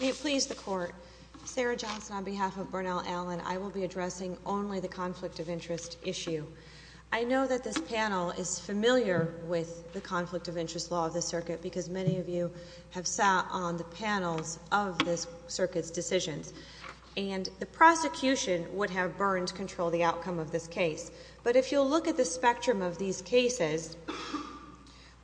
May it please the Court, Sarah Johnson on behalf of Bernal Allen, I will be addressing only the conflict of interest issue. I know that this panel is familiar with the conflict of interest law of the circuit because many of you have sat on the panels of this circuit's decisions and the prosecution would have burned control of the outcome of this case. But if you'll look at the spectrum of these cases,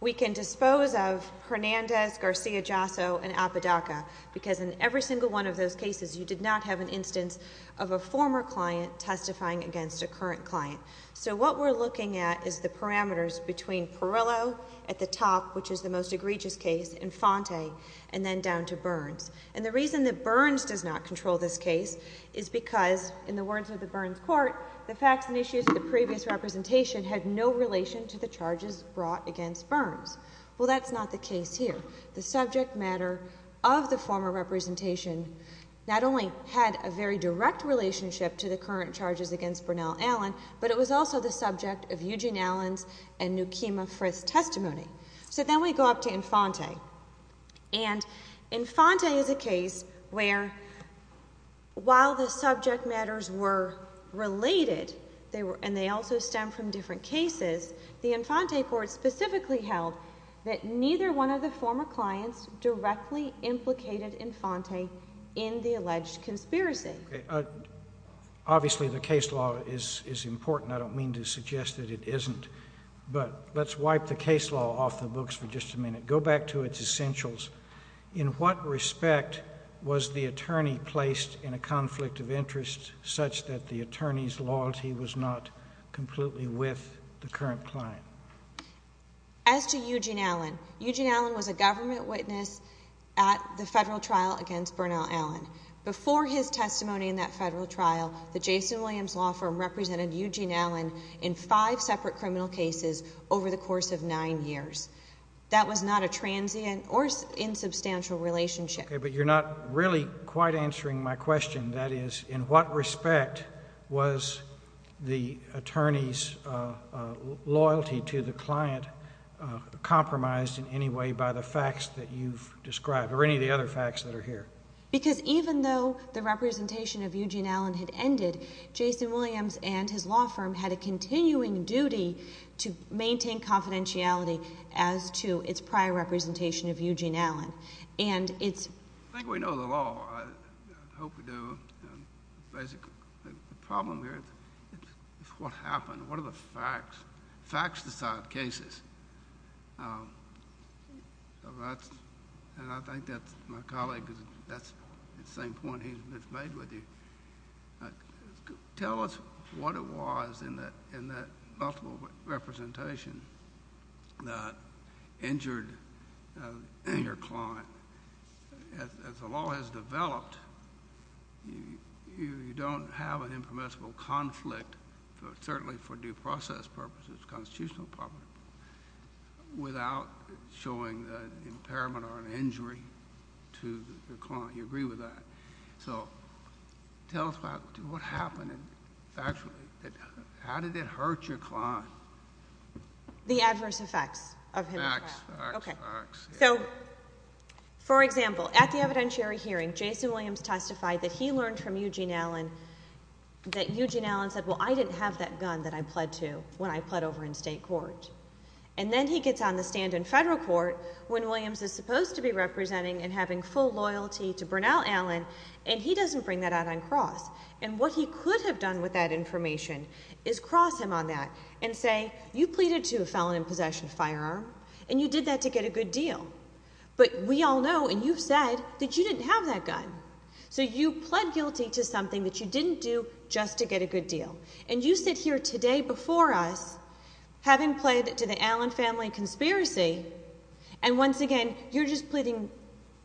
we can dispose of Hernandez, Garcia-Jasso and Apodaca because in every single one of those cases you did not have an instance of a former client testifying against a current client. So what we're looking at is the parameters between Perillo at the top, which is the most egregious case, Infante, and then down to Burns. And the reason that Burns does not control this case is because, in the words of the Burns Court, the facts and issues of the previous representation had no relation to the charges brought against Burns. Well, that's not the case here. The subject matter of the former representation not only had a very direct relationship to the current charges against Bernal Allen, but it was also the subject of Eugene Allen's and Newkema Frith's testimony. So then we go up to Infante. And Infante is a case where, while the subject matters were related, and they also stem from different cases, the Infante Court specifically held that neither one of the former clients directly implicated Infante in the alleged conspiracy. Obviously, the case law is important. I don't mean to suggest that it isn't. But let's wipe the case law off the books for just a minute. Go back to its essentials. In what respect was the attorney placed in a conflict of interest such that the attorney's loyalty was not completely with the current client? As to Eugene Allen, Eugene Allen was a government witness at the federal trial against Bernal Allen. Before his testimony in that federal trial, the Jason Williams Law Firm represented Eugene Allen in five separate criminal cases over the course of nine years. That was not a transient or insubstantial relationship. Okay, but you're not really quite answering my question. That is, in what respect was the attorney's loyalty to the client compromised in any way by the facts that you've described or any of the other facts that are here? Because even though the representation of Eugene Allen had ended, Jason Williams and his law firm had a continuing duty to maintain confidentiality as to its prior representation of Eugene Allen. I think we know the law. I hope we do. Basically, the problem here is what happened. What are the facts? Facts decide cases. I think that my colleague, that's the same point he's made with you. Tell us what it was in that multiple representation that injured the client. As the law has developed, you don't have an impermissible conflict, certainly for due process purposes, constitutional purposes, without showing an impairment or an injury to the client. You agree with that. Tell us what happened. How did it hurt your client? The adverse effects of his trial. For example, at the evidentiary hearing, Jason Williams testified that he learned from Eugene Allen that Eugene Allen said, well, I didn't have that gun that I pled to when I pled over in state court. Then he gets on the stand in federal court when Williams is supposed to be representing and having full loyalty to Bernal Allen, and he doesn't bring that out on cross. What he could have done with that information is cross him on that and say, you pleaded to a felon in possession of a firearm, and you did that to get a good deal. We all know, and you've said, that you didn't have that gun. You pled guilty to something that you didn't do just to get a good deal. You sit here today before us, having pled to the Allen family conspiracy, and once again, you're just pleading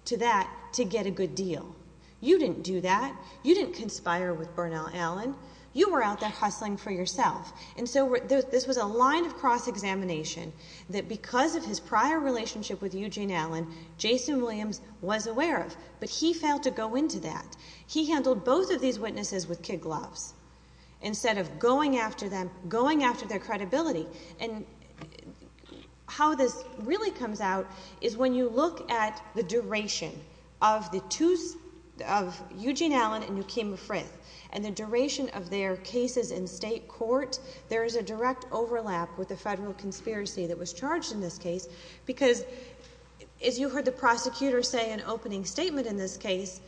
to that to get a good deal. You didn't do that. You didn't conspire with Bernal Allen. You were out there hustling for yourself. And so this was a line of cross-examination that, because of his prior relationship with Eugene Allen, Jason Williams was aware of, but he failed to go into that. He handled both of these witnesses with kid gloves, instead of going after them, going after their credibility. And how this really comes out is when you look at the duration of Eugene Allen and Nekima State Court, there is a direct overlap with the federal conspiracy that was charged in this case, because, as you heard the prosecutor say in opening statement in this case,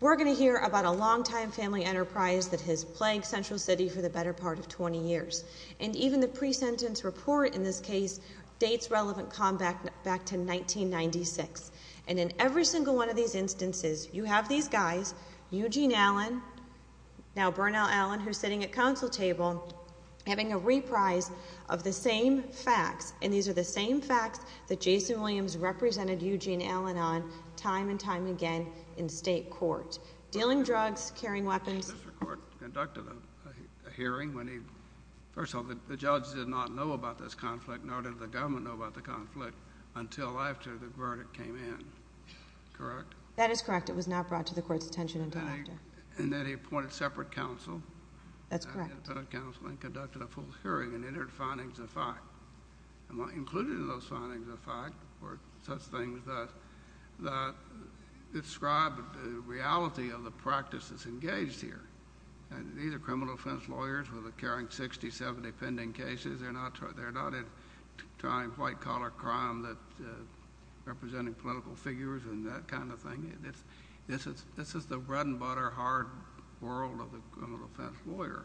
we're going to hear about a long-time family enterprise that has plagued Central City for the better part of 20 years. And even the pre-sentence report in this case dates relevant combat back to 1996. And in every single one of these instances, you have these guys, Eugene Allen, now Bernal Allen, who's sitting at counsel table, having a reprise of the same facts. And these are the same facts that Jason Williams represented Eugene Allen on time and time again in state court. Dealing drugs, carrying weapons. Mr. Court conducted a hearing when he, first of all, the judge did not know about this conflict, nor did the government know about the conflict, until after the verdict came in. Correct? That is correct. It was not brought to the Court's attention until after. And then he appointed separate counsel. That's correct. And he appointed separate counsel and conducted a full hearing and entered findings of fact. And what included in those findings of fact were such things that described the reality of the practice that's engaged here. And these are criminal defense lawyers with a carrying 60, 70 pending cases. They're not trying white-collar crime that's representing political figures and that kind of thing. This is the bread-and-butter hard world of the criminal defense lawyer.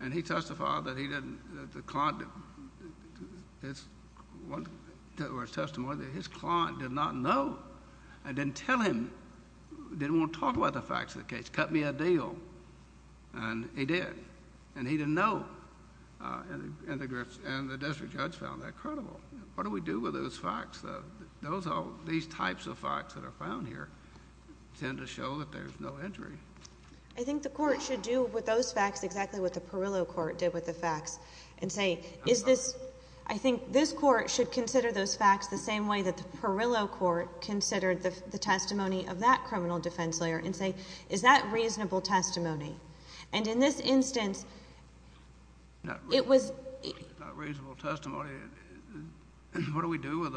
And he testified that he didn't—the client—or his testimony—that his client did not know and didn't tell him—didn't want to talk about the facts of the case. Cut me a deal. And he did. And he didn't know. And the district judge found that credible. What do we do with those facts, though? Those—these types of facts that are found here tend to show that there's no injury. I think the Court should do with those facts exactly what the Perillo Court did with the facts and say, is this—I think this Court should consider those facts the same way that the Perillo Court considered the testimony of that criminal defense lawyer and say, is that reasonable testimony? And in this instance, it was— It's not reasonable testimony. What do we do with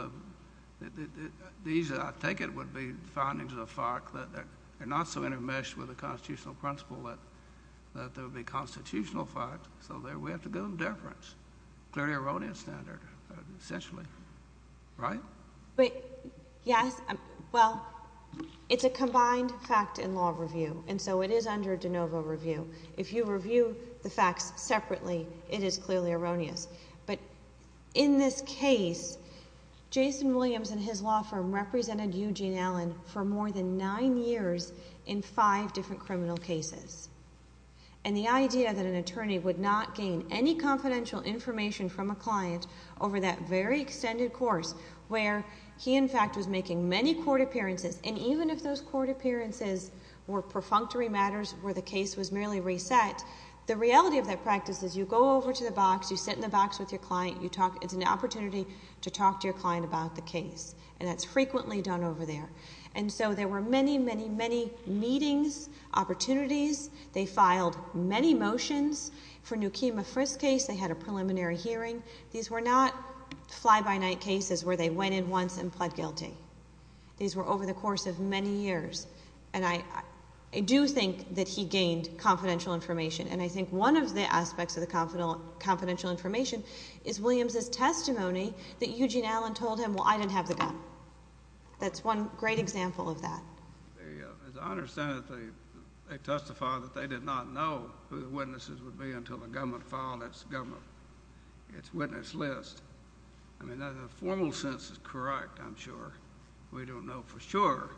the—these, I take it, would be findings of the fact that they're not so intermeshed with the constitutional principle that there would be constitutional facts, so there—we have to give them deference. Clearly erroneous standard, essentially. Right? But—yes. Well, it's a combined fact and law review, and so it is under de novo review. If you review the facts separately, it is clearly erroneous. But in this case, Jason Williams and his law firm represented Eugene Allen for more than nine years in five different criminal cases. And the idea that an attorney would not gain any confidential information from a client over that very extended course where he, in fact, was making many court appearances, and even if those court appearances were perfunctory matters where the case was merely reset, the reality of that practice is you go over to the box, you sit in the box with your client, you talk—it's an opportunity to talk to your client about the case. And that's frequently done over there. And so there were many, many, many meetings, opportunities. They filed many motions for Newkima Frist's case. They had a preliminary hearing. These were not fly-by-night cases where they went in once and pled guilty. These were over the course of many years. And I do think that he gained confidential information. And I think one of the aspects of the confidential information is Williams' testimony that Eugene Allen told him, well, I didn't have the gun. That's one great example of that. As I understand it, they testified that they did not know who the witnesses would be until the government filed its witness list. I mean, the formal sense is correct, I'm sure. We don't know for sure,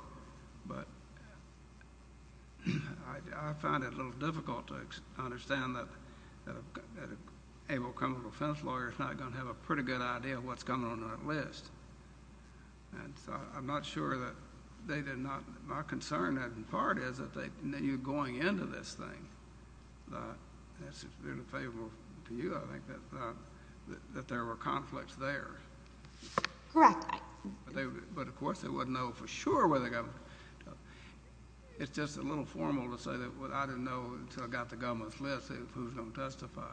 but I find it a little difficult to understand that an able criminal defense lawyer is not going to have a pretty good idea of what's going on in that list. And so I'm not sure that they did not—my concern, in part, is that they knew going into this thing. That's been favorable to you, I think, that there were conflicts there. Correct. But, of course, they wouldn't know for sure whether the government—it's just a little formal to say that I didn't know until I got the government's list who was going to testify.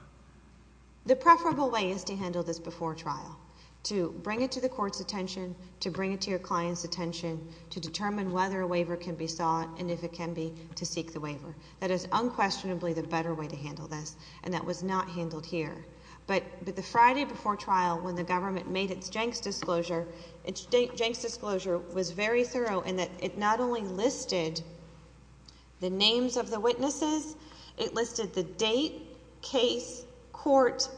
The preferable way is to handle this before trial, to bring it to the court's attention, to bring it to your client's attention, to determine whether a waiver can be sought and if it can be, to seek the waiver. That is unquestionably the better way to handle this, and that was not handled here. But the Friday before trial, when the government made its Jenks disclosure, its Jenks disclosure was very thorough in that it not only listed the names of the witnesses, it listed the date, case, court,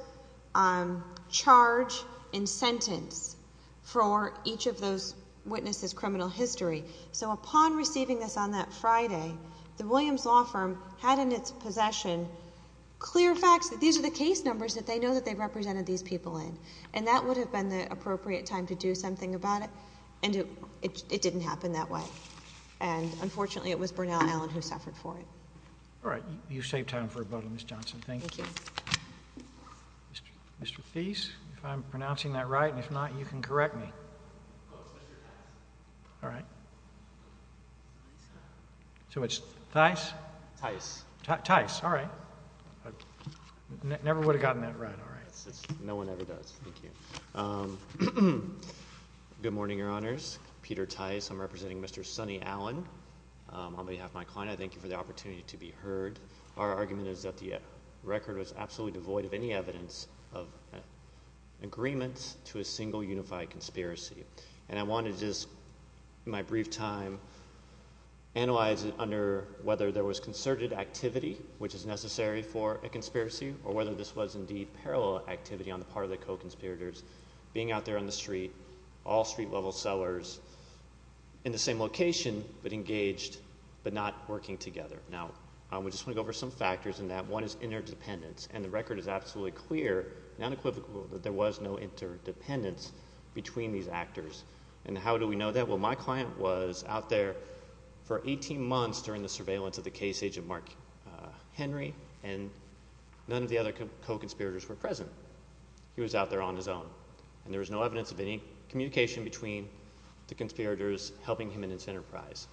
charge, and sentence for each of those witnesses' criminal history. So upon receiving this on that Friday, the Williams Law Firm had in its possession clear facts that these are the case numbers that they know that they represented these people in, and that would have been the appropriate time to do something about it, and it didn't happen that way. And, unfortunately, it was Bernal Allen who suffered for it. All right. You've saved time for a vote on this, Johnson. Thank you. Thank you. Mr. Feece, if I'm pronouncing that right, and if not, you can correct me. Oh, it's Mr. Tice. All right. So it's Tice? Tice. Tice. All right. Never would have gotten that right. No one ever does. Thank you. Good morning, Your Honors. Peter Tice. I'm representing Mr. Sonny Allen on behalf of my client. I thank you for the opportunity to be heard. Our argument is that the record was absolutely devoid of any evidence of agreement to a single unified conspiracy, and I want to just, in my brief time, analyze it under whether there was concerted activity, which is necessary for a conspiracy, or whether this was, indeed, parallel activity on the part of the co-conspirators, being out there on the street, all street-level sellers, in the same location, but engaged, but not working together. Now, we just want to go over some factors in that. One is interdependence, and the record is absolutely clear and unequivocal that there was no interdependence between these actors. And how do we know that? Well, my client was out there for 18 months during the surveillance of the case agent, Mark Henry, and none of the other co-conspirators were present. He was out there on his own, and there was no evidence of any communication between the conspirators helping him in his enterprise.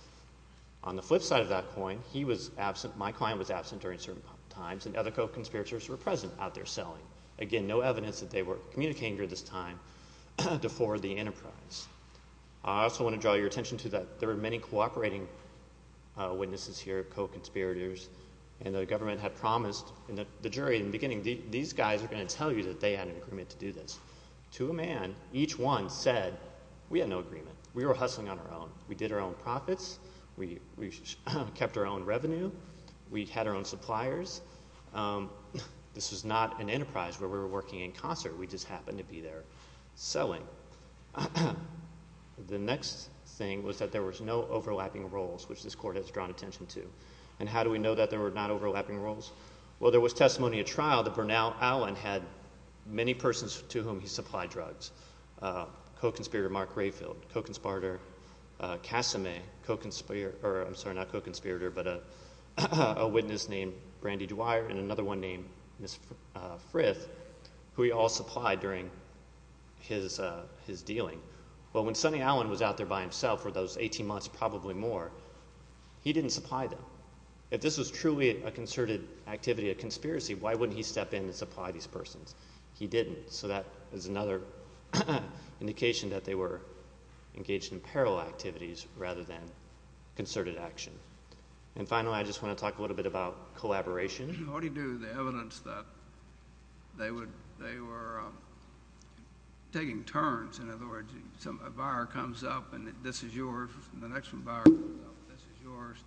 On the flip side of that coin, he was absent, my client was absent during certain times, and other co-conspirators were present out there selling. Again, no evidence that they were communicating during this time before the enterprise. I also want to draw your attention to that there were many cooperating witnesses here, co-conspirators, and the government had promised the jury in the beginning, these guys are going to tell you that they had an agreement to do this. To a man, each one said, we had no agreement. We were hustling on our own. We did our own profits. We kept our own revenue. We had our own suppliers. This was not an enterprise where we were working in concert. We just happened to be there selling. The next thing was that there was no overlapping roles, which this court has drawn attention to. And how do we know that there were not overlapping roles? Well, there was testimony at trial that Bernal Allen had many persons to whom he supplied drugs. Co-conspirator Mark Grayfield, co-conspirator Casame, co-conspirator, I'm sorry, not co-conspirator, but a witness named Brandy Dwyer and another one named Miss Frith, who he all supplied during his dealing. Well, when Sonny Allen was out there by himself for those 18 months, probably more, he didn't supply them. If this was truly a concerted activity, a conspiracy, why wouldn't he step in and supply these persons? He didn't, so that is another indication that they were engaged in parallel activities rather than concerted action. And finally, I just want to talk a little bit about collaboration. What do you do with the evidence that they were taking turns? In other words, a buyer comes up and this is yours, and the next buyer comes up and this is yours.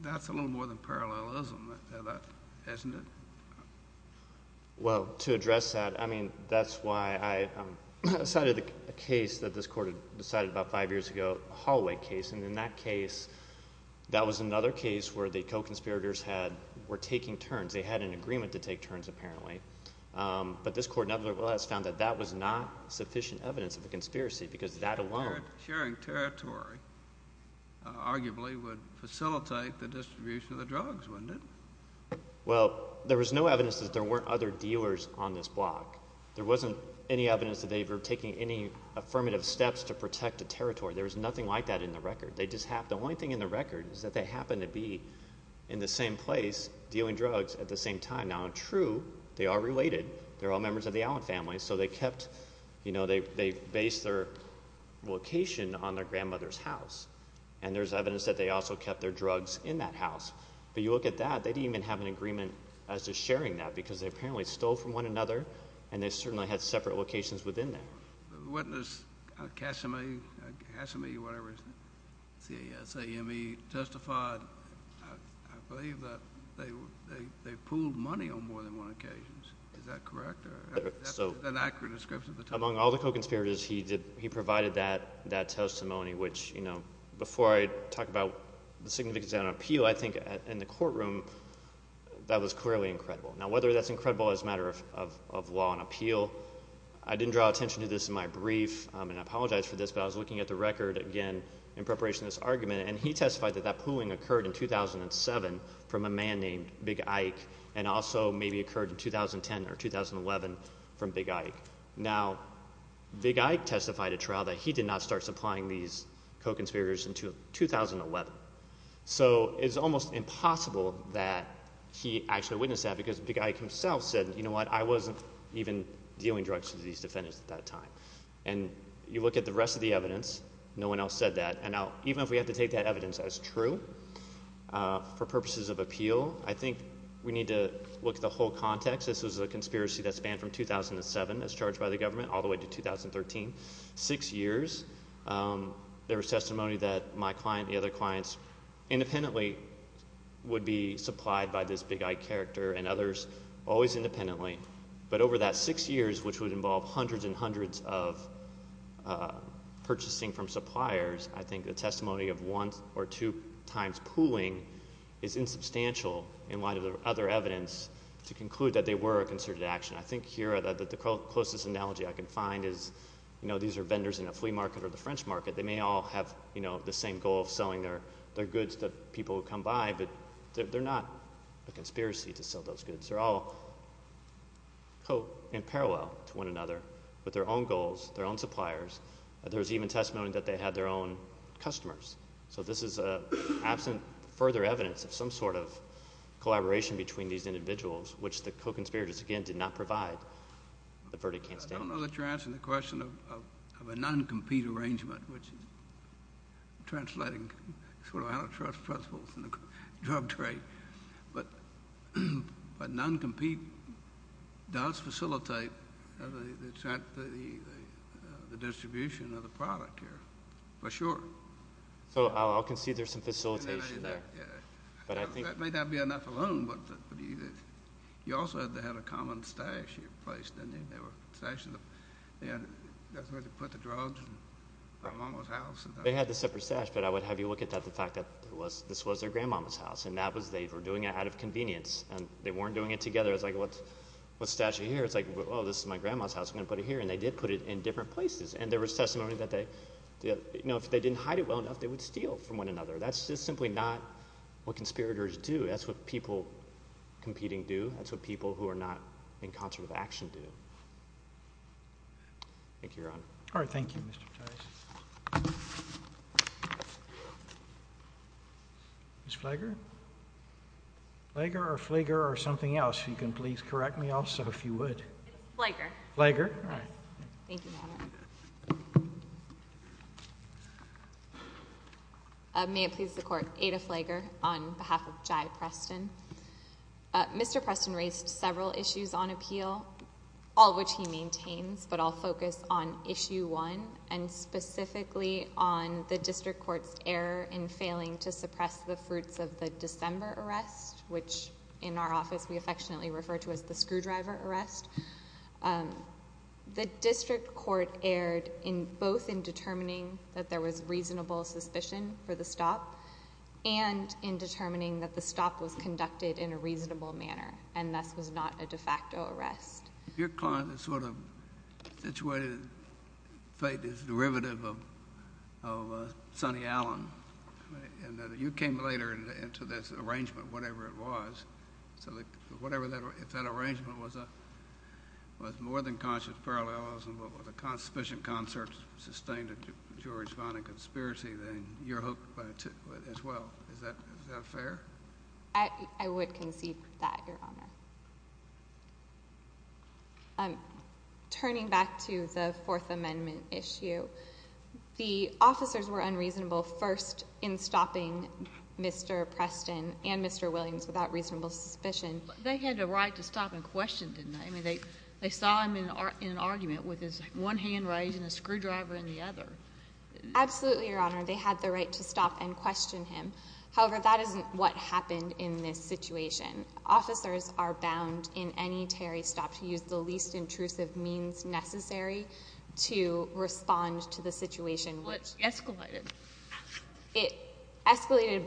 That's a little more than parallelism, isn't it? Well, to address that, I mean, that's why I cited a case that this court had decided about five years ago, a hallway case. And in that case, that was another case where the co-conspirators were taking turns. They had an agreement to take turns apparently. But this court nevertheless found that that was not sufficient evidence of a conspiracy because that alone— Sharing territory arguably would facilitate the distribution of the drugs, wouldn't it? Well, there was no evidence that there weren't other dealers on this block. There wasn't any evidence that they were taking any affirmative steps to protect the territory. There was nothing like that in the record. They just have—the only thing in the record is that they happen to be in the same place dealing drugs at the same time. Now, true, they are related. They're all members of the Allen family. So they kept—they based their location on their grandmother's house, and there's evidence that they also kept their drugs in that house. But you look at that. They didn't even have an agreement as to sharing that because they apparently stole from one another, and they certainly had separate locations within that. The witness, Kasame, whatever his—C-A-S-A-M-E, testified—I believe that they pooled money on more than one occasion. Is that correct? That's an accurate description of the testimony. Among all the co-conspirators, he provided that testimony, which, you know, before I talk about the significance of that appeal, I think in the courtroom, that was clearly incredible. Now, whether that's incredible as a matter of law and appeal, I didn't draw attention to this in my brief, and I apologize for this, but I was looking at the record again in preparation of this argument, and he testified that that pooling occurred in 2007 from a man named Big Ike and also maybe occurred in 2010 or 2011 from Big Ike. Now, Big Ike testified at trial that he did not start supplying these co-conspirators until 2011. So it's almost impossible that he actually witnessed that because Big Ike himself said, you know what, I wasn't even dealing drugs to these defendants at that time. And you look at the rest of the evidence, no one else said that. Now, even if we have to take that evidence as true for purposes of appeal, I think we need to look at the whole context. This was a conspiracy that spanned from 2007, as charged by the government, all the way to 2013. Six years, there was testimony that my client and the other clients independently would be supplied by this Big Ike character and others always independently. But over that six years, which would involve hundreds and hundreds of purchasing from suppliers, I think the testimony of one or two times pooling is insubstantial in light of the other evidence to conclude that they were a concerted action. I think here the closest analogy I can find is, you know, these are vendors in a flea market or the French market. They may all have, you know, the same goal of selling their goods to people who come by, but they're not a conspiracy to sell those goods. They're all in parallel to one another with their own goals, their own suppliers. There was even testimony that they had their own customers. So this is absent further evidence of some sort of collaboration between these individuals, which the co-conspirators, again, did not provide. The verdict can't stand. I don't know that you're answering the question of a non-compete arrangement, which is translating sort of antitrust principles in the drug trade. But non-compete does facilitate the distribution of the product here, for sure. So I'll concede there's some facilitation there. That may not be enough alone, but you also had to have a common stash in your place, didn't you? There were stashes. That's where they put the drugs in my mama's house. They had a separate stash, but I would have you look at the fact that this was their grandmama's house, and they were doing it out of convenience. They weren't doing it together. It's like, what stash are you here? It's like, oh, this is my grandma's house. I'm going to put it here. And they did put it in different places. And there was testimony that if they didn't hide it well enough, they would steal from one another. That's just simply not what conspirators do. That's what people competing do. That's what people who are not in concert with action do. Thank you, Your Honor. All right. Thank you, Mr. Patrice. Ms. Flager? Flager or Flager or something else, if you can please correct me also, if you would. Flager. Flager. All right. Thank you, Your Honor. May it please the Court. Ada Flager on behalf of Jai Preston. Mr. Preston raised several issues on appeal, all of which he maintains, but I'll focus on Issue 1 and specifically on the district court's error in failing to suppress the fruits of the December arrest, which in our office we affectionately refer to as the screwdriver arrest. The district court erred both in determining that there was reasonable suspicion for the stop and in determining that the stop was conducted in a reasonable manner and thus was not a de facto arrest. Your client is sort of situated, in fact, is derivative of Sonny Allen. You came later into this arrangement, whatever it was. So if that arrangement was more than conscious parallels and was a suspicious concert sustained in jury's finding conspiracy, then you're hooked as well. Is that fair? I would concede that, Your Honor. Turning back to the Fourth Amendment issue, the officers were unreasonable first in stopping Mr. Preston and Mr. Williams without reasonable suspicion. They had the right to stop and question, didn't they? I mean, they saw him in an argument with his one hand raised and a screwdriver in the other. Absolutely, Your Honor. They had the right to stop and question him. However, that isn't what happened in this situation. Officers are bound in any Terry stop to use the least intrusive means necessary to respond to the situation. Which escalated. It escalated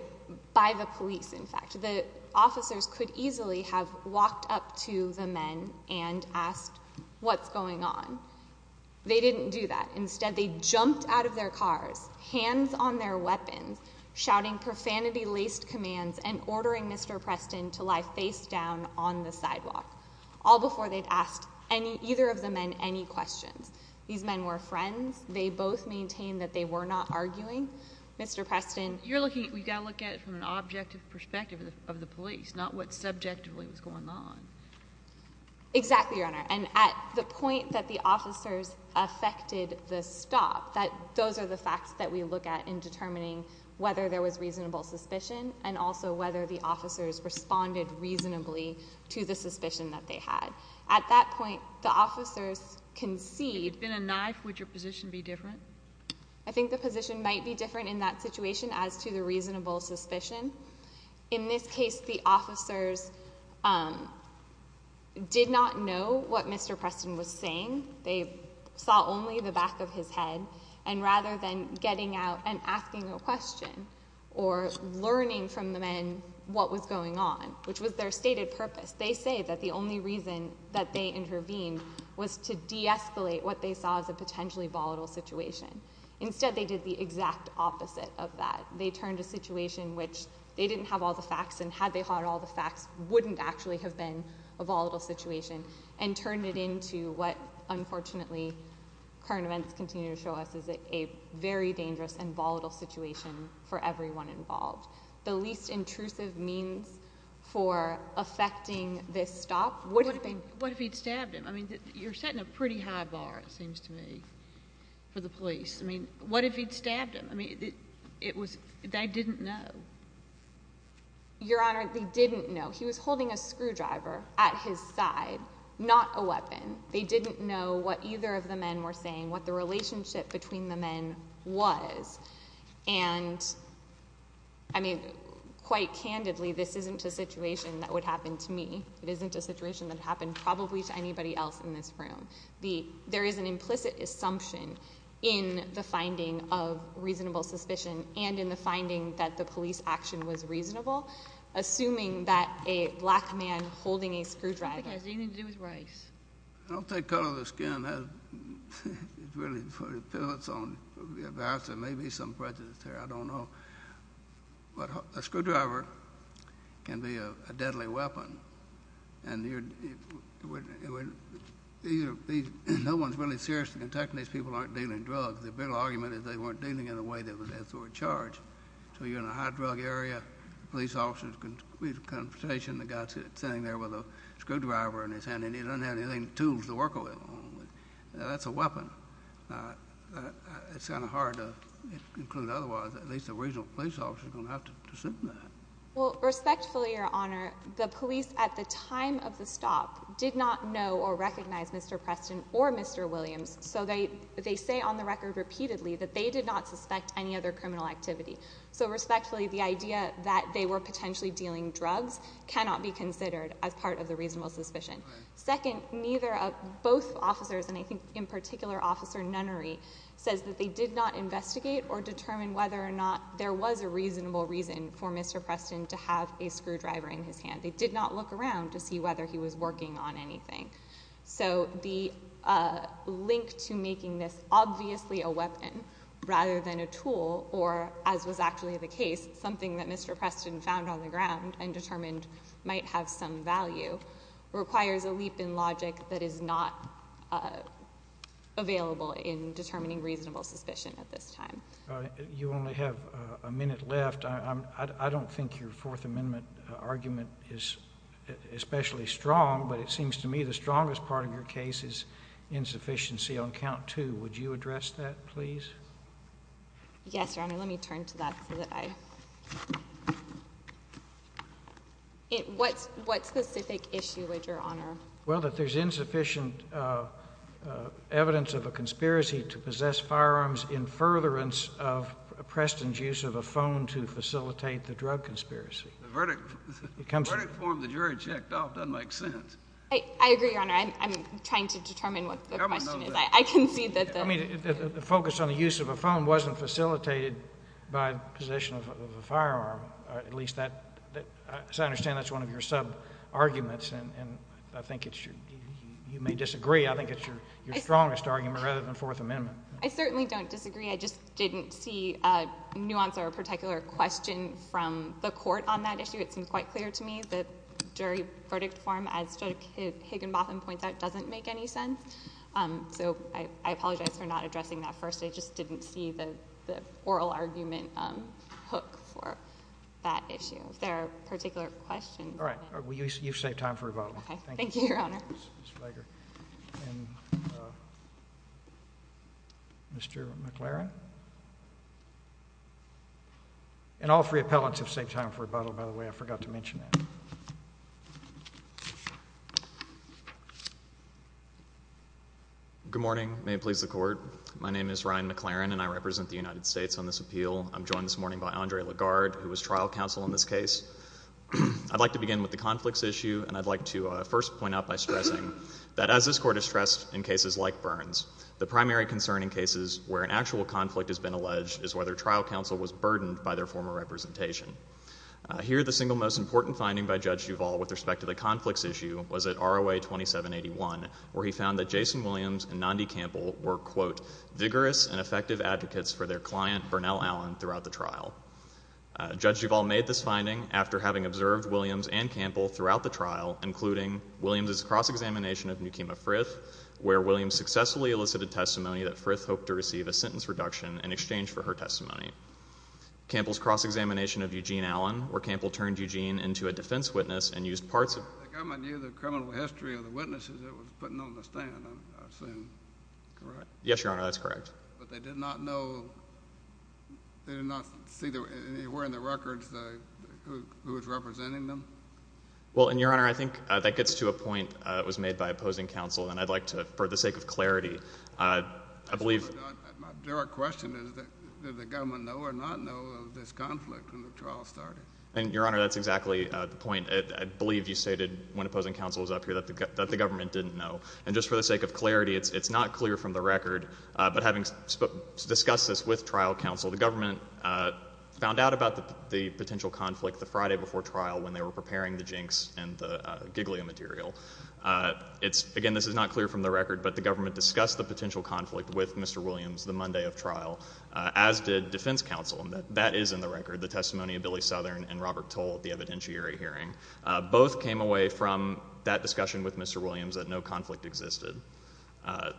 by the police, in fact. The officers could easily have walked up to the men and asked, what's going on? They didn't do that. Instead, they jumped out of their cars, hands on their weapons, shouting profanity-laced commands and ordering Mr. Preston to lie face down on the sidewalk. All before they'd asked either of the men any questions. These men were friends. They both maintained that they were not arguing. Mr. Preston— You've got to look at it from an objective perspective of the police, not what subjectively was going on. Exactly, Your Honor. And at the point that the officers affected the stop, those are the facts that we look at in determining whether there was reasonable suspicion and also whether the officers responded reasonably to the suspicion that they had. At that point, the officers concede— If it had been a knife, would your position be different? I think the position might be different in that situation as to the reasonable suspicion. In this case, the officers did not know what Mr. Preston was saying. They saw only the back of his head, and rather than getting out and asking a question or learning from the men what was going on, which was their stated purpose, they say that the only reason that they intervened was to de-escalate what they saw as a potentially volatile situation. Instead, they did the exact opposite of that. They turned a situation in which they didn't have all the facts, and had they had all the facts, wouldn't actually have been a volatile situation, and turned it into what, unfortunately, current events continue to show us is a very dangerous and volatile situation for everyone involved. The least intrusive means for affecting this stop would have been— What if he'd stabbed him? I mean, you're setting a pretty high bar, it seems to me, for the police. I mean, what if he'd stabbed him? I mean, it was—they didn't know. Your Honor, they didn't know. He was holding a screwdriver at his side, not a weapon. They didn't know what either of the men were saying, what the relationship between the men was. And, I mean, quite candidly, this isn't a situation that would happen to me. It isn't a situation that would happen probably to anybody else in this room. There is an implicit assumption in the finding of reasonable suspicion and in the finding that the police action was reasonable, assuming that a black man holding a screwdriver— What do you think has anything to do with Rice? I don't think color of the skin has really put a penalty on him. There may be some prejudice there. I don't know. But a screwdriver can be a deadly weapon, and no one's really serious in protecting these people who aren't dealing in drugs. The real argument is they weren't dealing in a way that would add to their charge. So you're in a high-drug area. Police officers can be in a conversation. The guy's sitting there with a screwdriver in his hand, and he doesn't have any tools to work with. That's a weapon. It's kind of hard to conclude otherwise. At least a regional police officer is going to have to assume that. Well, respectfully, Your Honor, the police at the time of the stop did not know or recognize Mr. Preston or Mr. Williams, so they say on the record repeatedly that they did not suspect any other criminal activity. So respectfully, the idea that they were potentially dealing drugs cannot be considered as part of the reasonable suspicion. Second, neither of both officers, and I think in particular Officer Nunnery, says that they did not investigate or determine whether or not there was a reasonable reason for Mr. Preston to have a screwdriver in his hand. They did not look around to see whether he was working on anything. So the link to making this obviously a weapon rather than a tool, or as was actually the case, something that Mr. Preston found on the ground and determined might have some value, requires a leap in logic that is not available in determining reasonable suspicion at this time. You only have a minute left. I don't think your Fourth Amendment argument is especially strong, but it seems to me the strongest part of your case is insufficiency on count two. Would you address that, please? Yes, Your Honor. Let me turn to that. What specific issue, Your Honor? Well, that there's insufficient evidence of a conspiracy to possess firearms in furtherance of Preston's use of a phone to facilitate the drug conspiracy. The verdict form the jury checked off doesn't make sense. I agree, Your Honor. I'm trying to determine what the question is. The government knows that. I can see that the— I mean, the focus on the use of a phone wasn't facilitated by possession of a firearm. At least, as I understand, that's one of your sub-arguments, and I think you may disagree. I think it's your strongest argument rather than Fourth Amendment. I certainly don't disagree. I just didn't see a nuance or a particular question from the court on that issue. It seems quite clear to me that jury verdict form, as Judge Higginbotham points out, doesn't make any sense. So I apologize for not addressing that first. I just didn't see the oral argument hook for that issue. Is there a particular question? All right. Thank you, Your Honor. Ms. Flager and Mr. McLaren. And all three appellants have saved time for rebuttal, by the way. I forgot to mention that. Good morning. May it please the Court. My name is Ryan McLaren, and I represent the United States on this appeal. I'm joined this morning by Andre Lagarde, who was trial counsel on this case. I'd like to begin with the conflicts issue, and I'd like to first point out by stressing that, as this Court has stressed in cases like Burns, the primary concern in cases where an actual conflict has been alleged is whether trial counsel was burdened by their former representation. Here, the single most important finding by Judge Duvall with respect to the conflicts issue was at ROA 2781, where he found that Jason Williams and Nandi Campbell were, quote, vigorous and effective advocates for their client, Burnell Allen, throughout the trial. Judge Duvall made this finding after having observed Williams and Campbell throughout the trial, including Williams' cross-examination of Nekima Frith, where Williams successfully elicited testimony that Frith hoped to receive a sentence reduction in exchange for her testimony. Campbell's cross-examination of Eugene Allen, where Campbell turned Eugene into a defense witness and used parts of I think I might need the criminal history of the witnesses that was put on the stand, I assume. Correct. Yes, Your Honor, that's correct. But they did not know, they did not see anywhere in the records who was representing them? Well, and, Your Honor, I think that gets to a point that was made by opposing counsel, and I'd like to, for the sake of clarity, I believe My direct question is, did the government know or not know of this conflict when the trial started? And, Your Honor, that's exactly the point. I believe you stated when opposing counsel was up here that the government didn't know. And just for the sake of clarity, it's not clear from the record, but having discussed this with trial counsel, the government found out about the potential conflict the Friday before trial when they were preparing the jinx and the Giglio material. Again, this is not clear from the record, but the government discussed the potential conflict with Mr. Williams the Monday of trial, as did defense counsel, and that is in the record, the testimony of Billy Southern and Robert Toll at the evidentiary hearing. Both came away from that discussion with Mr. Williams that no conflict existed. Does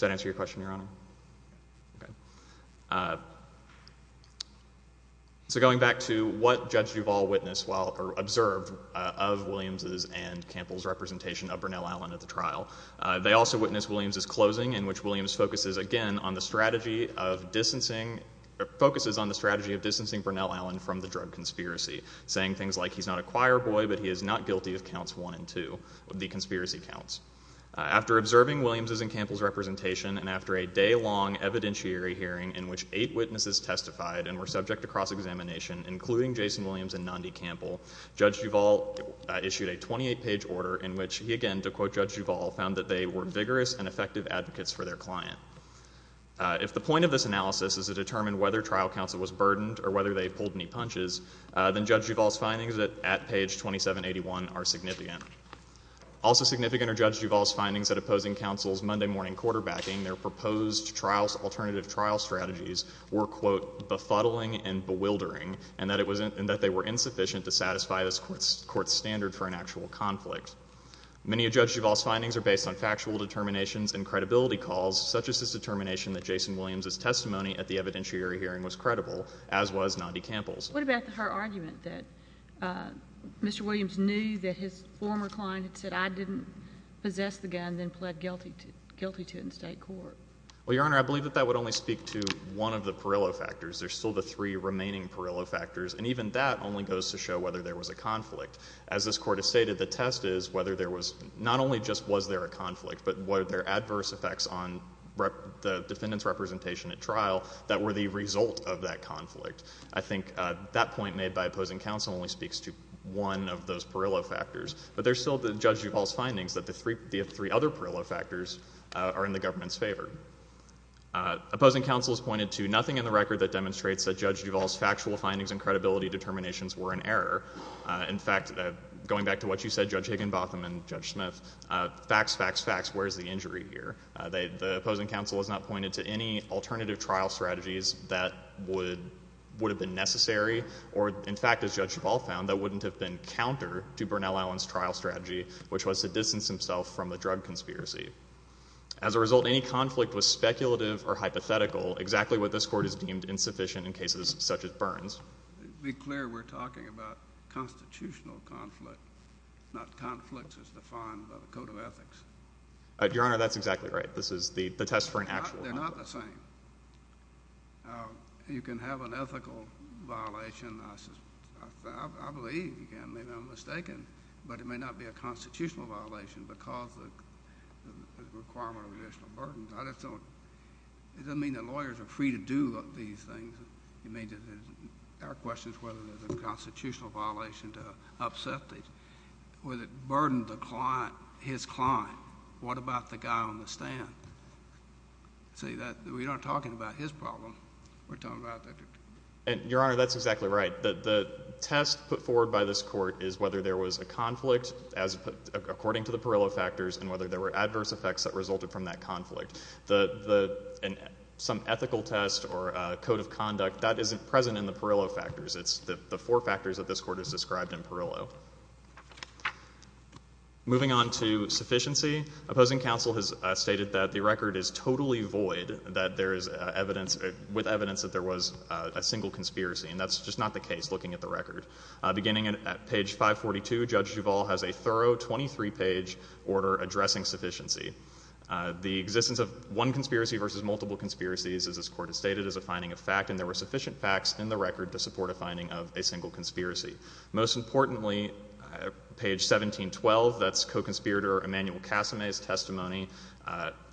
that answer your question, Your Honor? Okay. So going back to what Judge Duvall observed of Williams' and Campbell's representation of Brunel Allen at the trial, they also witnessed Williams' closing, in which Williams focuses again on the strategy of distancing, Brunel Allen from the drug conspiracy, saying things like he's not a choir boy, but he is not guilty of counts one and two, the conspiracy counts. After observing Williams' and Campbell's representation, and after a day-long evidentiary hearing in which eight witnesses testified and were subject to cross-examination, including Jason Williams and Nandi Campbell, Judge Duvall issued a 28-page order in which he, again, to quote Judge Duvall, found that they were vigorous and effective advocates for their client. If the point of this analysis is to determine whether trial counsel was burdened or whether they pulled any punches, then Judge Duvall's findings at page 2781 are significant. Also significant are Judge Duvall's findings that opposing counsel's Monday morning quarterbacking, their proposed alternative trial strategies were, quote, befuddling and bewildering, and that they were insufficient to satisfy this Court's standard for an actual conflict. Many of Judge Duvall's findings are based on factual determinations and credibility calls, such as his determination that Jason Williams' testimony at the evidentiary hearing was credible, as was Nandi Campbell's. What about her argument that Mr. Williams knew that his former client had said, I didn't possess the gun, then pled guilty to it in state court? Well, Your Honor, I believe that that would only speak to one of the Parillo factors. There's still the three remaining Parillo factors, and even that only goes to show whether there was a conflict. As this Court has stated, the test is whether there was not only just was there a conflict, but were there adverse effects on the defendant's representation at trial that were the result of that conflict. I think that point made by opposing counsel only speaks to one of those Parillo factors, but there's still Judge Duvall's findings that the three other Parillo factors are in the government's favor. Opposing counsel has pointed to nothing in the record that demonstrates that Judge Duvall's factual findings and credibility determinations were in error. In fact, going back to what you said, Judge Higginbotham and Judge Smith, facts, facts, facts, where's the injury here? The opposing counsel has not pointed to any alternative trial strategies that would have been necessary, or in fact, as Judge Duvall found, that wouldn't have been counter to Bernal Allen's trial strategy, which was to distance himself from the drug conspiracy. As a result, any conflict was speculative or hypothetical, exactly what this Court has deemed insufficient in cases such as Bern's. To be clear, we're talking about constitutional conflict, not conflicts as defined by the Code of Ethics. Your Honor, that's exactly right. This is the test for an actual conflict. They're not the same. You can have an ethical violation. I believe, maybe I'm mistaken, but it may not be a constitutional violation because of the requirement of additional burdens. It doesn't mean that lawyers are free to do these things. Our question is whether there's a constitutional violation to upset these, whether it burdened the client, his client. What about the guy on the stand? See, we're not talking about his problem. We're talking about that. Your Honor, that's exactly right. The test put forward by this Court is whether there was a conflict according to the Parillo factors and whether there were adverse effects that resulted from that conflict. Some ethical test or code of conduct, that isn't present in the Parillo factors. It's the four factors that this Court has described in Parillo. Moving on to sufficiency, opposing counsel has stated that the record is totally void with evidence that there was a single conspiracy, and that's just not the case looking at the record. Beginning at page 542, Judge Duvall has a thorough 23-page order addressing sufficiency. The existence of one conspiracy versus multiple conspiracies, as this Court has stated, is a finding of fact, and there were sufficient facts in the record to support a finding of a single conspiracy. Most importantly, page 1712, that's co-conspirator Emanuel Casame's testimony,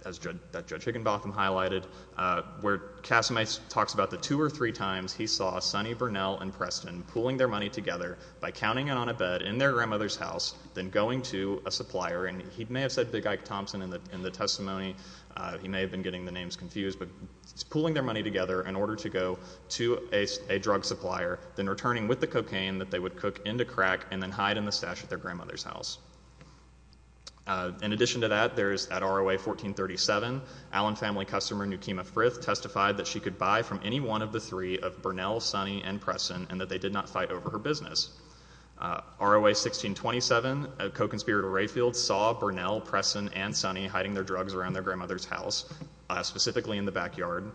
as Judge Higginbotham highlighted, where Casame talks about the two or three times he saw Sonny Burnell and Preston pooling their money together by counting it on a bed in their grandmother's house, then going to a supplier. And he may have said Big Ike Thompson in the testimony. He may have been getting the names confused. But pooling their money together in order to go to a drug supplier, then returning with the cocaine that they would cook into crack and then hide in the stash at their grandmother's house. In addition to that, there is at R.O.A. 1437, Allen family customer Newkema Frith testified that she could buy from any one of the three of Burnell, Sonny, and Preston, and that they did not fight over her business. R.O.A. 1627, co-conspirator Rayfield saw Burnell, Preston, and Sonny hiding their drugs around their grandmother's house, specifically in the backyard.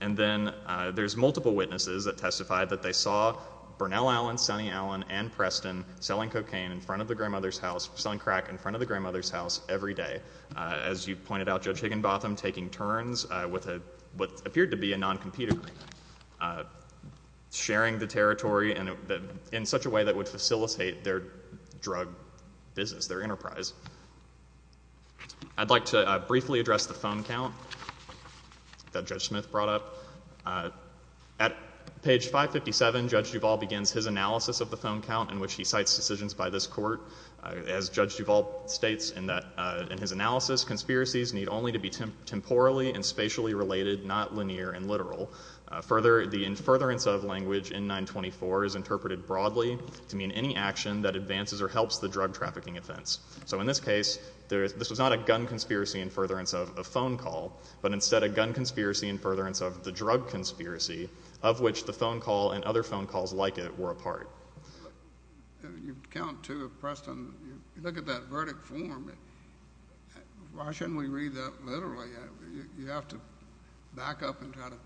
And then there's multiple witnesses that testified that they saw Burnell Allen, Sonny Allen, and Preston selling cocaine in front of the grandmother's house, selling crack in front of the grandmother's house every day. As you pointed out, Judge Higginbotham taking turns with what appeared to be a non-competer sharing the territory in such a way that would facilitate their drug business, their enterprise. I'd like to briefly address the phone count that Judge Smith brought up. At page 557, Judge Duvall begins his analysis of the phone count in which he cites decisions by this court. As Judge Duvall states in his analysis, conspiracies need only to be temporally and spatially related, not linear and literal. Further, the in furtherance of language in 924 is interpreted broadly to mean any action that advances or helps the drug trafficking offense. So in this case, this was not a gun conspiracy in furtherance of a phone call, but instead a gun conspiracy in furtherance of the drug conspiracy of which the phone call and other phone calls like it were a part. You count two of Preston. You look at that verdict form. Why shouldn't we read that literally? You have to back up and try to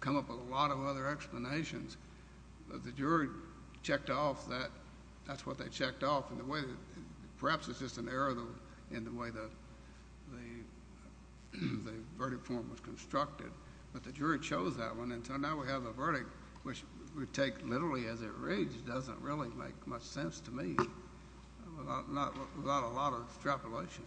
come up with a lot of other explanations. The jury checked off that. That's what they checked off. Perhaps it's just an error in the way the verdict form was constructed, but the jury chose that one. So now we have a verdict which we take literally as it reads. It doesn't really make much sense to me without a lot of extrapolation.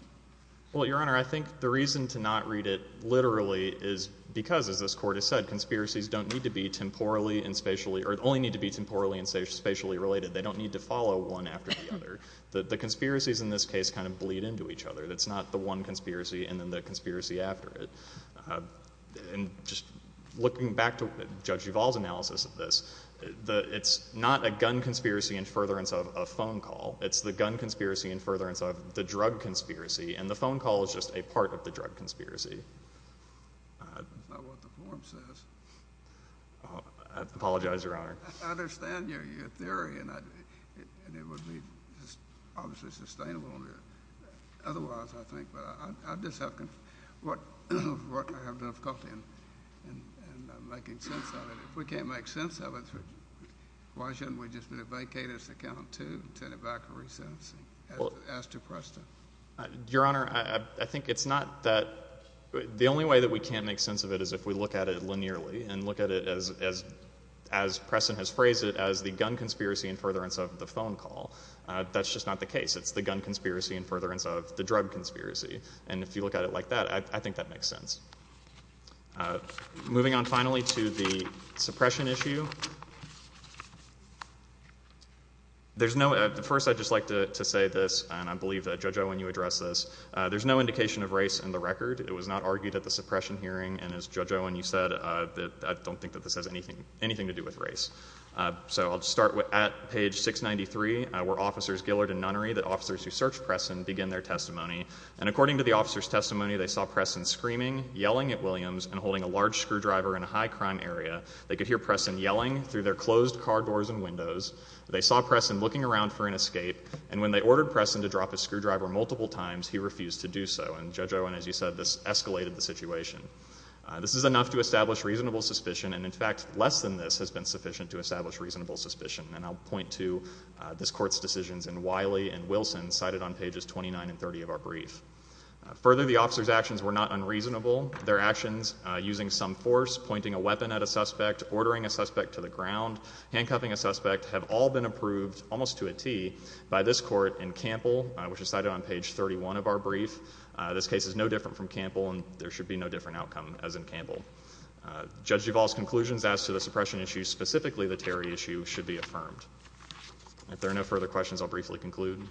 Well, Your Honor, I think the reason to not read it literally is because, as this court has said, conspiracies don't need to be temporally and spatially or only need to be temporally and spatially related. They don't need to follow one after the other. The conspiracies in this case kind of bleed into each other. It's not the one conspiracy and then the conspiracy after it. Just looking back to Judge Duvall's analysis of this, it's not a gun conspiracy in furtherance of a phone call. It's the gun conspiracy in furtherance of the drug conspiracy, and the phone call is just a part of the drug conspiracy. That's not what the form says. I apologize, Your Honor. I understand your theory, and it would be obviously sustainable otherwise, I think. I have difficulty in making sense of it. If we can't make sense of it, why shouldn't we just vacate its account too and send it back for resensing, as to Preston? Your Honor, I think it's not that. The only way that we can't make sense of it is if we look at it linearly and look at it as Preston has phrased it, as the gun conspiracy in furtherance of the phone call. That's just not the case. It's the gun conspiracy in furtherance of the drug conspiracy. If you look at it like that, I think that makes sense. Moving on finally to the suppression issue. First, I'd just like to say this, and I believe that Judge Owen, you addressed this. There's no indication of race in the record. It was not argued at the suppression hearing, and as Judge Owen, you said, I don't think that this has anything to do with race. I'll start at page 693, where officers Gillard and Nunnery, the officers who searched Preston, begin their testimony. And according to the officer's testimony, they saw Preston screaming, yelling at Williams, and holding a large screwdriver in a high crime area. They could hear Preston yelling through their closed car doors and windows. They saw Preston looking around for an escape, and when they ordered Preston to drop his screwdriver multiple times, he refused to do so. And Judge Owen, as you said, this escalated the situation. This is enough to establish reasonable suspicion, and in fact less than this has been sufficient to establish reasonable suspicion. And I'll point to this Court's decisions in Wiley and Wilson, cited on pages 29 and 30 of our brief. Further, the officers' actions were not unreasonable. Their actions, using some force, pointing a weapon at a suspect, ordering a suspect to the ground, handcuffing a suspect, have all been approved almost to a T by this Court in Campbell, which is cited on page 31 of our brief. This case is no different from Campbell, and there should be no different outcome as in Campbell. Judge Duval's conclusions as to the suppression issue, specifically the Terry issue, should be affirmed. If there are no further questions, I'll briefly conclude.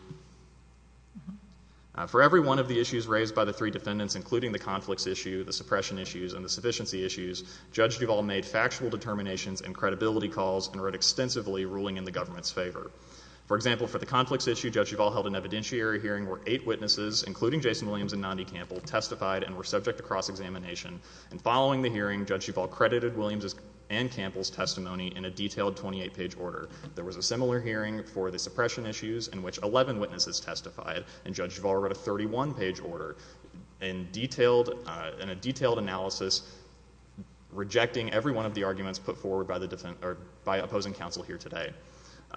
For every one of the issues raised by the three defendants, including the conflicts issue, the suppression issues, and the sufficiency issues, Judge Duval made factual determinations and credibility calls and wrote extensively ruling in the government's favor. For example, for the conflicts issue, Judge Duval held an evidentiary hearing where eight witnesses, including Jason Williams and Nandi Campbell, testified and were subject to cross-examination. And following the hearing, Judge Duval credited Williams' and Campbell's testimony in a detailed 28-page order. There was a similar hearing for the suppression issues in which 11 witnesses testified, and Judge Duval wrote a 31-page order in a detailed analysis rejecting every one of the arguments put forward by opposing counsel here today.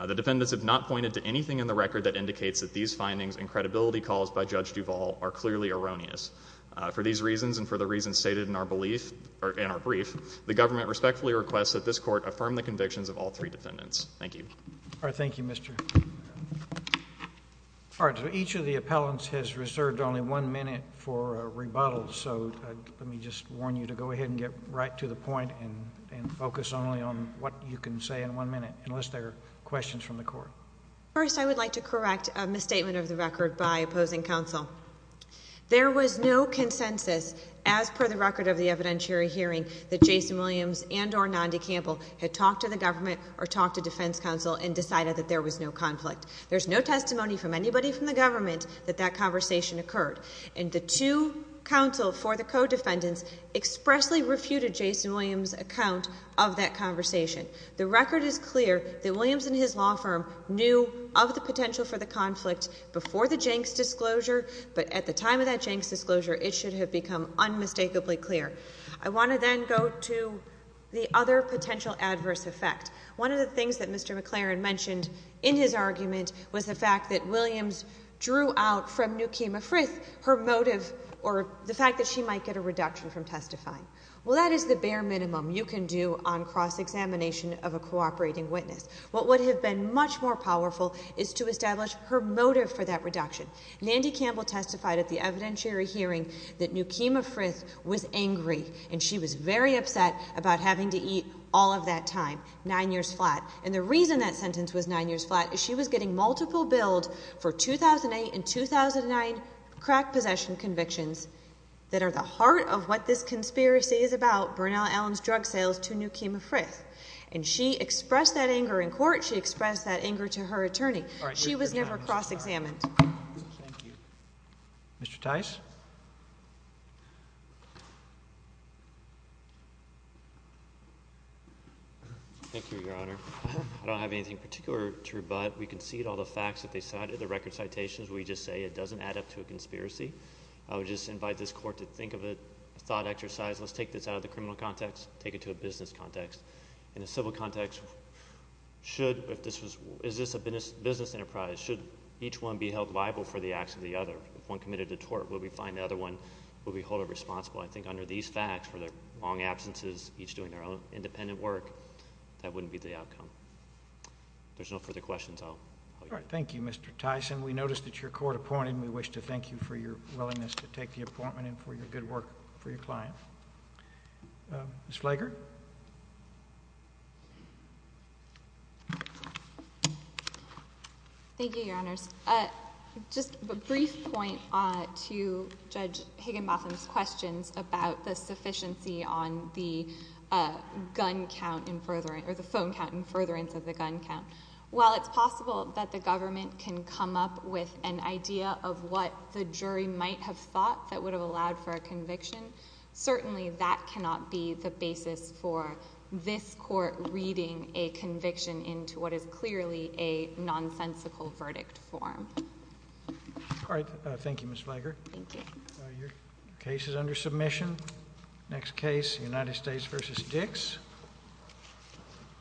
The defendants have not pointed to anything in the record that indicates that these findings and credibility calls by Judge Duval are clearly erroneous. For these reasons and for the reasons stated in our brief, the government respectfully requests that this Court affirm the convictions of all three defendants. Thank you. All right, thank you, Mr. All right, so each of the appellants has reserved only one minute for rebuttals, so let me just warn you to go ahead and get right to the point and focus only on what you can say in one minute, unless there are questions from the Court. First, I would like to correct a misstatement of the record by opposing counsel. There was no consensus as per the record of the evidentiary hearing that Jason Williams and or Nandi Campbell had talked to the government or talked to defense counsel and decided that there was no conflict. There's no testimony from anybody from the government that that conversation occurred, and the two counsel for the co-defendants expressly refuted Jason Williams' account of that conversation. The record is clear that Williams and his law firm knew of the potential for the conflict before the Jenks disclosure, but at the time of that Jenks disclosure, it should have become unmistakably clear. I want to then go to the other potential adverse effect. One of the things that Mr. McLaren mentioned in his argument was the fact that Williams drew out from Newkema Frith her motive or the fact that she might get a reduction from testifying. Well, that is the bare minimum you can do on cross-examination of a cooperating witness. What would have been much more powerful is to establish her motive for that reduction. Nandi Campbell testified at the evidentiary hearing that Newkema Frith was angry, and she was very upset about having to eat all of that time, 9 years flat. And the reason that sentence was 9 years flat is she was getting multiple bills for 2008 and 2009 crack possession convictions that are the heart of what this conspiracy is about, Bernal Allen's drug sales to Newkema Frith. And she expressed that anger in court. She expressed that anger to her attorney. She was never cross-examined. Thank you. Mr. Tice. Thank you, Your Honor. I don't have anything particular to rebut. We concede all the facts that they cited, the record citations. We just say it doesn't add up to a conspiracy. I would just invite this Court to think of it, a thought exercise. Let's take this out of the criminal context, take it to a business context. In a civil context, is this a business enterprise? Should each one be held liable for the acts of the other? If one committed a tort, will we find the other one? Will we hold her responsible? I think under these facts, for their long absences, each doing their own independent work, that wouldn't be the outcome. If there's no further questions, I'll let you go. Thank you, Mr. Tice. And we notice that you're court appointed, and we wish to thank you for your willingness to take the appointment and for your good work for your client. Ms. Flager? Thank you, Your Honors. Just a brief point to Judge Higginbotham's questions about the sufficiency on the phone count in furtherance of the gun count. While it's possible that the government can come up with an idea of what the jury might have thought that would have allowed for a conviction, certainly that cannot be the basis for this court reading a conviction into what is clearly a nonsensical verdict form. All right. Thank you, Ms. Flager. Thank you. Your case is under submission. Next case, United States v. Dix.